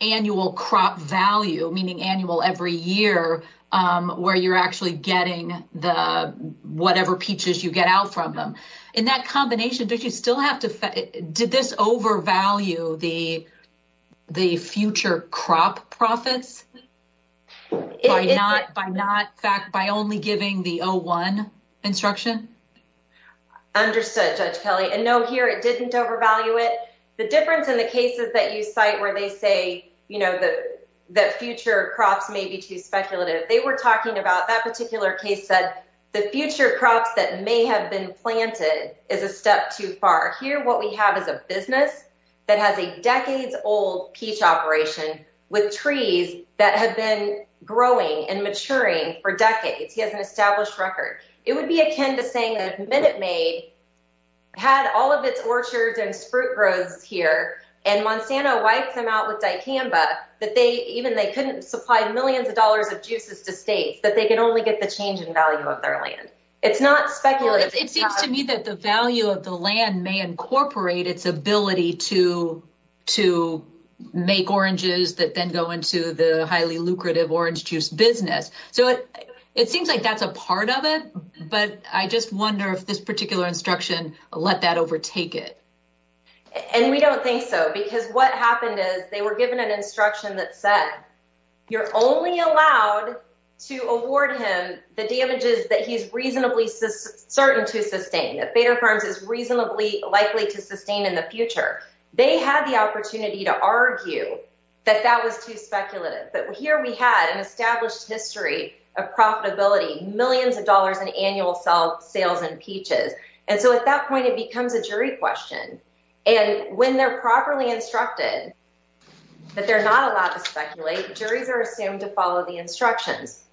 annual crop value, meaning annual every year where you're actually getting the whatever peaches you get out from them in that combination. But you still have to. Did this overvalue the the future crop profits? It's not by not fact by only giving the oh one instruction. Understood, Judge Kelly. And no, here it didn't overvalue it. The difference in the cases that you cite where they say, you know, that that future crops may be too speculative. They were talking about that particular case said the future crops that may have been planted is a step too far here. What we have is a business that has a decades old peach operation with trees that have been growing and maturing for decades. He has an established record. It would be akin to saying that Minute Maid had all of its orchards and fruit grows here and Monsanto wiped them out with dicamba that they even they couldn't supply millions of dollars of juices to states that they can only get the change in value of their land. It's not speculative. It seems to me that the value of the land may incorporate its ability to to make oranges that then go into the highly lucrative orange juice business. So it seems like that's a part of it. But I just wonder if this particular instruction let that overtake it. And we don't think so, because what happened is they were given an instruction that said, you're only allowed to award him the damages that he's reasonably certain to sustain. That Bader firms is reasonably likely to sustain in the future. They had the opportunity to argue that that was too speculative. But here we had an established history of profitability, millions of dollars in annual self sales and peaches. And so at that point, it becomes a jury question. And when they're properly instructed that they're not allowed to speculate, juries are assumed to follow the instructions.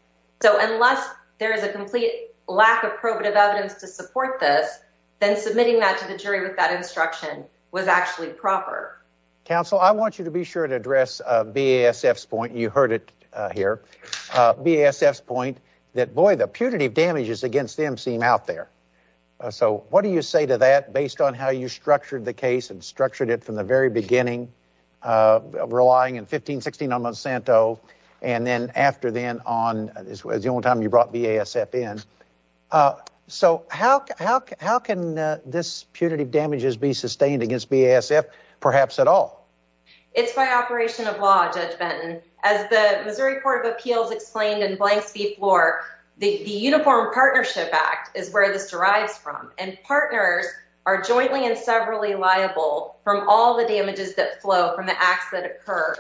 So unless there is a complete lack of probative evidence to support this, then submitting that to the jury with that instruction was actually proper. Counsel, I want you to be sure to address BASF's point. You heard it here. BASF's point that, boy, the punitive damages against them seem out there. So what do you say to that, based on how you structured the case and structured it from the very beginning, relying in 15, 16 on Monsanto, and then after then on, this was the only time you brought BASF in. So how can this punitive damages be sustained against BASF, perhaps at all? It's by operation of law, Judge Benton. As the Missouri Court of Appeals explained in Blank Speed Floor, the Uniform Partnership Act is where this derives from. And partners are jointly and severally liable from all the damages that flow from the acts that occur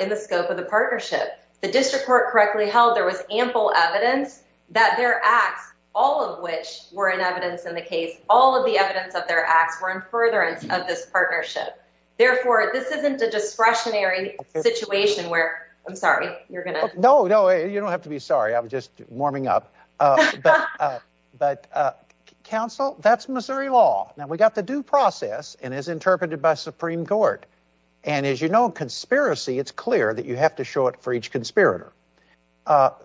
in the scope of the partnership. The district court correctly held there was ample evidence that their acts, all of which were in evidence in the case, all of the evidence of their acts were in furtherance of this partnership. Therefore, this isn't a discretionary situation where—I'm sorry, you're going to— warming up. But counsel, that's Missouri law. Now, we got the due process and is interpreted by Supreme Court. And as you know, conspiracy, it's clear that you have to show it for each conspirator.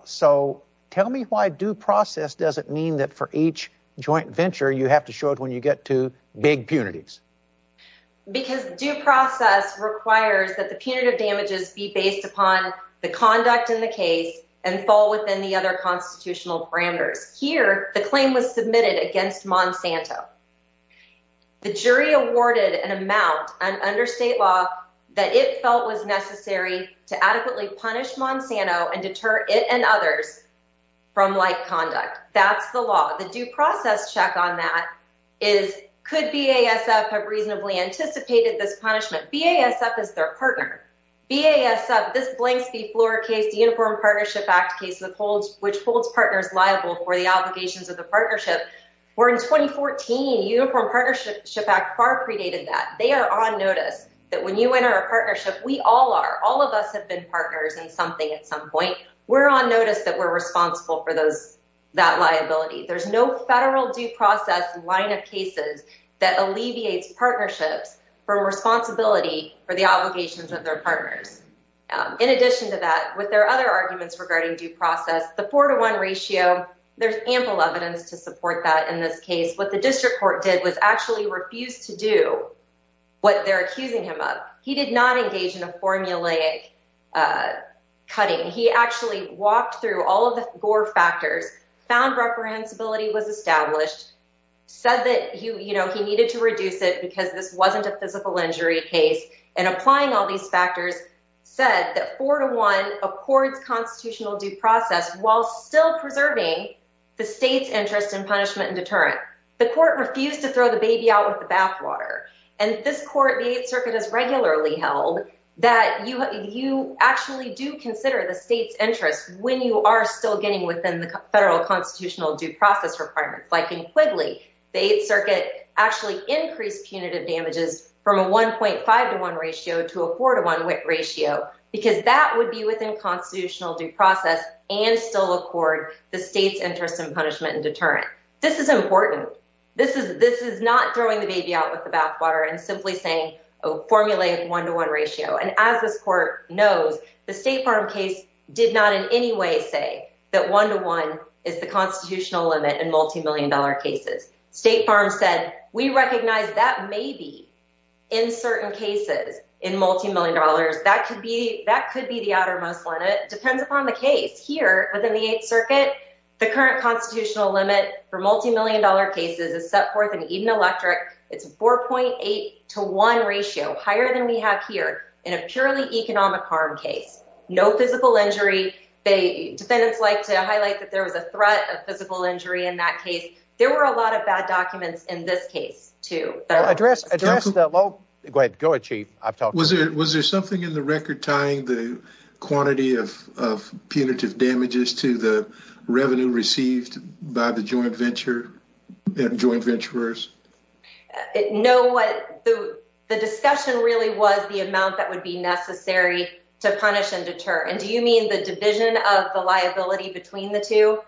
So tell me why due process doesn't mean that for each joint venture, you have to show it when you get to big punities. Because due process requires that the punitive damages be based upon the conduct in the case and fall within the other constitutional parameters. Here, the claim was submitted against Monsanto. The jury awarded an amount under state law that it felt was necessary to adequately punish Monsanto and deter it and others from like conduct. That's the law. The due process check on that is, could BASF have reasonably anticipated this punishment? BASF is their partner. BASF, this Blanks v. Flora case, the Uniform Partnership Act case, which holds partners liable for the obligations of the partnership, where in 2014, Uniform Partnership Act far predated that. They are on notice that when you enter a partnership, we all are. All of us have been partners in something at some point. We're on notice that we're responsible for that liability. There's no federal due process line of cases that alleviates partnerships from responsibility for the obligations of their partners. In addition to that, with their other arguments regarding due process, the four to one ratio, there's ample evidence to support that in this case. What the district court did was actually refused to do what they're accusing him of. He did not engage in a formulaic cutting. He actually walked through all of the Gore factors, found reprehensibility was established, said that he needed to reduce it because this wasn't a physical injury case, and applying all these factors said that four to one accords constitutional due process while still preserving the state's interest in punishment and deterrent. The court refused to throw the baby out with the bathwater. And this court, the Eighth Circuit has regularly held that you actually do consider the state's interest when you are still getting within the federal constitutional due process requirements, like in Quigley. The Eighth Circuit actually increased punitive damages from a 1.5 to one ratio to a four to one ratio because that would be within constitutional due process and still accord the state's interest in punishment and deterrent. This is important. This is not throwing the baby out with the bathwater and simply saying a formulaic one to one ratio. And as this court knows, the State Farm case did not in any way say that one to one is the constitutional limit in multimillion dollar cases. State Farm said, we recognize that maybe in certain cases in multimillion dollars, that could be the outermost one. It depends upon the case. Here within the Eighth Circuit, the current constitutional limit for multimillion dollar cases is set forth in Eden Electric. It's 4.8 to one ratio, higher than we have here in a purely economic harm case. No physical injury. Defendants like to highlight that there was a threat of physical injury in that case. There were a lot of bad documents in this case, too. Go ahead, Chief. Was there something in the record tying the quantity of punitive damages to the revenue received by the joint venture and joint venturers? No, the discussion really was the amount that would be necessary to punish and deter. And do you mean the division of the liability between the two?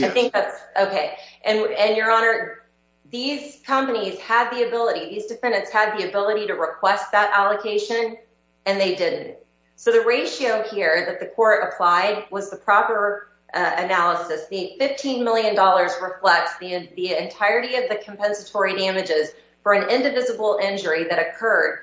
I think that's okay. And your honor, these companies had the ability, these defendants had the ability to request that allocation, and they didn't. So the ratio here that the court applied was the proper analysis. The $15 million reflects the entirety of the compensatory damages for an indivisible injury that occurred.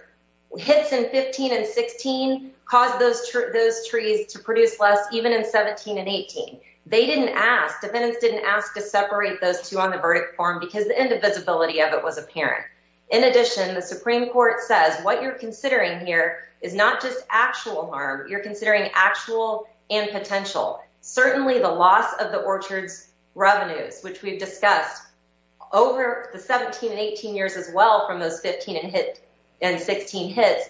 Hits in 15 and 16 caused those trees to produce less, even in 17 and 18. They didn't ask. Defendants didn't ask to separate those two on the verdict form because the indivisibility of it was apparent. In addition, the Supreme Court says what you're considering here is not just actual harm. You're considering actual and potential. Certainly the loss of the orchard's revenues, which we've discussed over the 17 and 18 years as well from those 15 and 16 hits,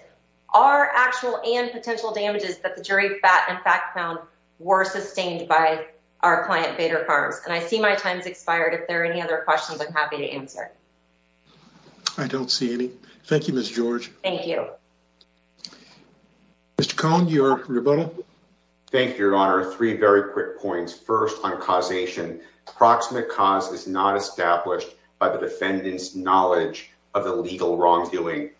are actual and potential damages that the jury in fact found were sustained by our client, Bader Farms. And I see my time's expired. If there are any other questions, I'm happy to answer. I don't see any. Thank you, Ms. George. Thank you. Mr. Cohn, your rebuttal. Thank you, your honor. Three very quick points. First, on causation. Approximate cause is not established by the defendant's knowledge of the legal wrongdoing.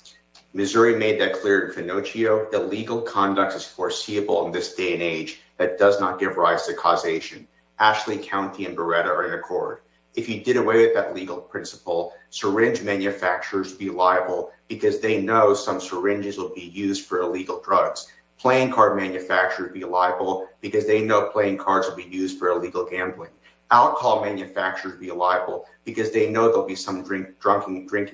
Missouri made that clear in Finocchio that legal conduct is foreseeable in this day and age that does not give rise to causation. Ashley County and Beretta are in accord. If you did away with that legal principle, syringe manufacturers would be liable because they know some syringes will be used for illegal drugs. Playing card manufacturers would be liable because they know playing cards will be used for illegal gambling. Alcohol manufacturers would be liable because they know there'll be some drinking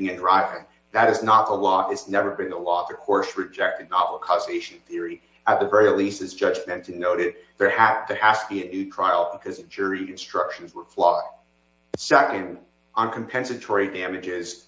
and driving. That is not the law. It's never been the law. The court rejected novel causation theory. At the very least, as Judge Benton noted, there has to be a new trial because the jury instructions were flawed. Second, on compensatory damages.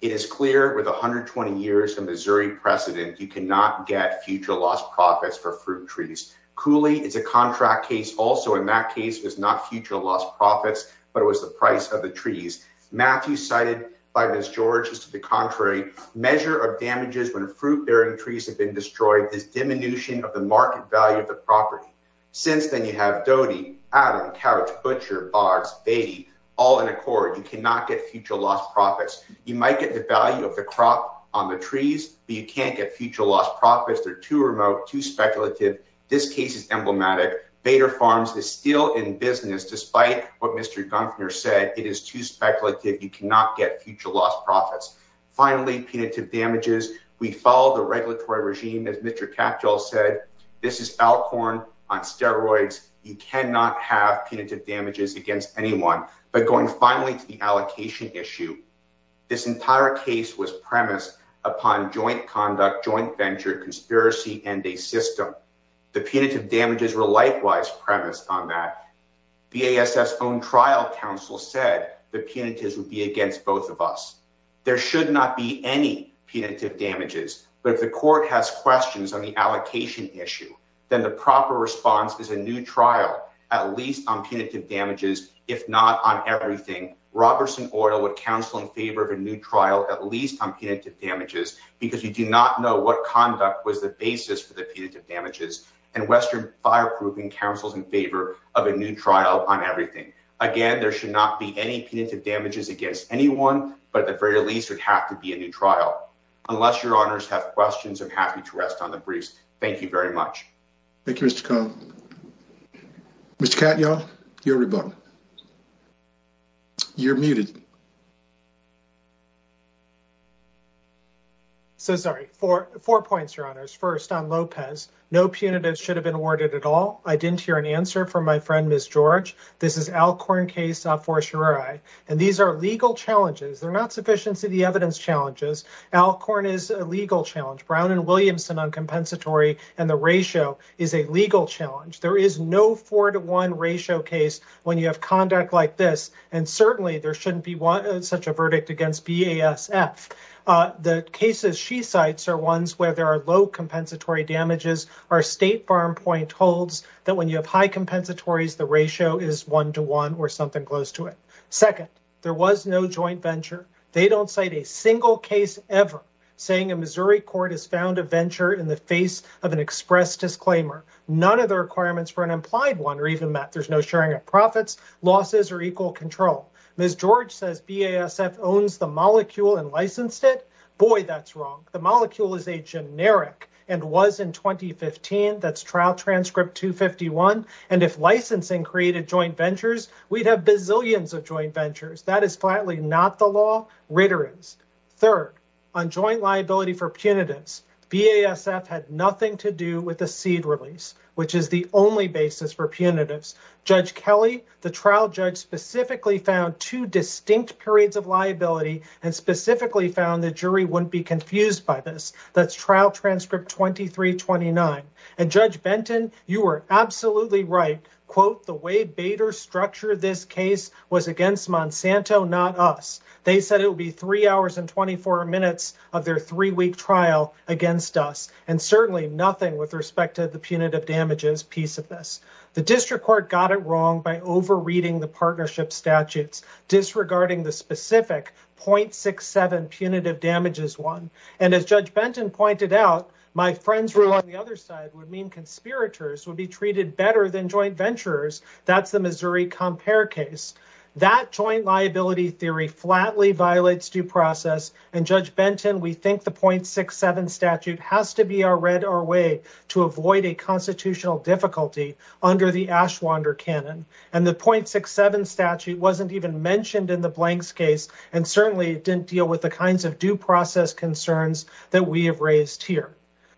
It is clear with 120 years of Missouri precedent, you cannot get future loss profits for fruit trees. Cooley is a contract case. Also in that case was not future loss profits, but it was the price of the trees. Matthew cited by Ms. George is to the contrary. Measure of damages when fruit bearing trees have been destroyed is diminution of the market value of the property. Since then, you have Doty, Adam, Couch, Butcher, Bards, Beatty, all in accord. You cannot get future loss profits. You might get the value of the crop on the trees, but you can't get future loss profits. They're too remote, too speculative. This case is emblematic. Bader Farms is still in business despite what Mr. Gunther said. It is too speculative. You cannot get future loss profits. Finally, punitive damages. We follow the regulatory regime. As Mr. Katyal said, this is Alcorn on steroids. You cannot have punitive damages against anyone. But going finally to the allocation issue, this entire case was premised upon joint conduct, joint venture, conspiracy, and a system. The punitive damages were likewise premised on that. BASS's own trial counsel said the punitives would be against both of us. There should not be any punitive damages. But if the court has questions on the allocation issue, then the proper response is a new trial, at least on punitive damages, if not on everything. Robertson Oil would counsel in favor of a new trial, at least on punitive damages, because we do not know what conduct was the basis for the punitive damages. And Western Fireproofing counsels in favor of a new trial on everything. Again, there should not be any punitive damages against anyone, but at the very least, it would have to be a new trial. Unless your honors have questions, I'm happy to rest on the briefs. Thank you very much. Thank you, Mr. Cohn. Mr. Katyal, you're rebut. You're muted. So sorry, four points, your honors. First on Lopez, no punitive should have been awarded at all. I didn't hear an answer from my friend, Ms. George. This is Alcorn case, not for sure. And these are legal challenges. They're not sufficiency of the evidence challenges. Alcorn is a legal challenge. Brown and Williamson on compensatory and the ratio is a legal challenge. There is no four to one ratio case when you have conduct like this. And certainly there shouldn't be such a verdict against BASF. The cases she cites are ones where there are low compensatory damages. Our state farm point holds that when you have high compensatories, the ratio is one to one or something close to it. Second, there was no joint venture. They don't cite a single case ever saying a Missouri court has found a venture in the face of an express disclaimer. None of the requirements for an implied one are even met. There's no sharing of profits, losses or equal control. Ms. George says BASF owns the molecule and licensed it. Boy, that's wrong. The molecule is a generic and was in 2015. That's trial transcript 251. And if licensing created joint ventures, we'd have bazillions of joint ventures. That is flatly not the law, Ritter is. Third, on joint liability for punitives, BASF had nothing to do with the seed release, which is the only basis for punitives. Judge Kelly, the trial judge, specifically found two distinct periods of liability and specifically found the jury wouldn't be confused by this. That's trial transcript 2329. And Judge Benton, you were absolutely right. Quote, the way Bader structured this case was against Monsanto, not us. They said it would be three hours and 24 minutes of their three week trial against us. And certainly nothing with respect to the punitive damages piece of this. The district court got it wrong by overreading the partnership statutes, disregarding the specific 0.67 punitive damages one. And as Judge Benton pointed out, my friends who are on the other side would mean conspirators would be treated better than joint ventures. That's the Missouri Compare case. That joint liability theory flatly violates due process. And Judge Benton, we think the 0.67 statute has to be our red, our way to avoid a constitutional difficulty under the Ashwander Canon. And the 0.67 statute wasn't even mentioned in the blanks case. And certainly it didn't deal with the kinds of due process concerns that we have raised here.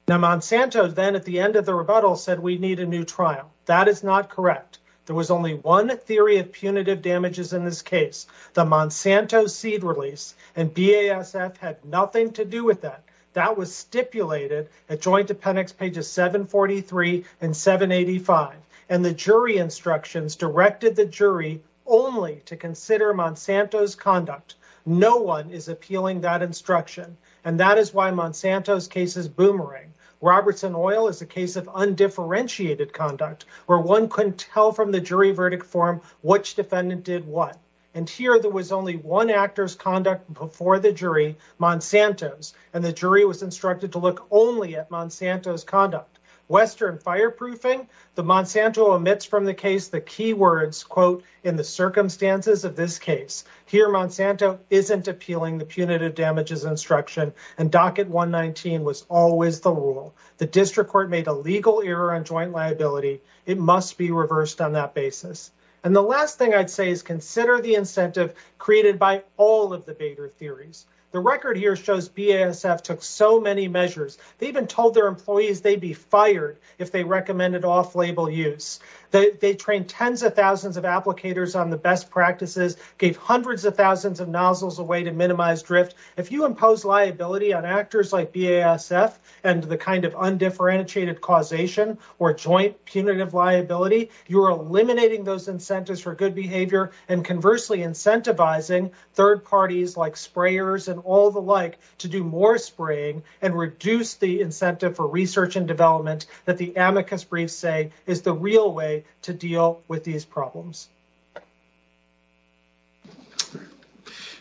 Now Monsanto then at the end of the rebuttal said we need a new trial. That is not correct. There was only one theory of punitive damages in this case. The Monsanto seed release and BASF had nothing to do with that. That was stipulated at joint appendix pages 743 and 785. And the jury instructions directed the jury only to consider Monsanto's conduct. No one is appealing that instruction. And that is why Monsanto's case is boomerang. Robertson Oil is a case of undifferentiated conduct where one couldn't tell from the jury verdict form which defendant did what. And here there was only one actor's conduct before the jury, Monsanto's. And the jury was instructed to look only at Monsanto's conduct. Western fireproofing. The Monsanto omits from the case the key words quote, in the circumstances of this case. Here Monsanto isn't appealing the punitive damages instruction. And docket 119 was always the rule. The district court made a legal error on joint liability. It must be reversed on that basis. And the last thing I'd say is consider the incentive created by all of the Bader theories. The record here shows BASF took so many measures. They even told their employees they'd be fired if they recommended off-label use. They trained tens of thousands of applicators on the best practices, gave hundreds of thousands of nozzles away to minimize drift. If you impose liability on actors like BASF and the kind of undifferentiated causation or joint punitive liability, you're eliminating those incentives for good behavior and conversely incentivizing third parties like sprayers and all the like to do more spraying and reduce the incentive for research and development that the amicus briefs say is the real way to deal with these problems.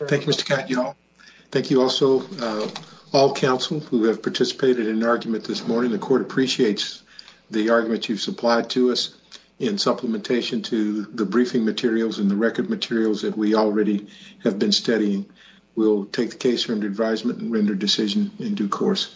Thank you, Mr. Catt, y'all. Thank you also all counsel who have participated in an argument this morning. The court appreciates the argument you've supplied to us in supplementation to the briefing materials and the record materials that we already have been studying. We'll take the case under advisement and render decision in due course.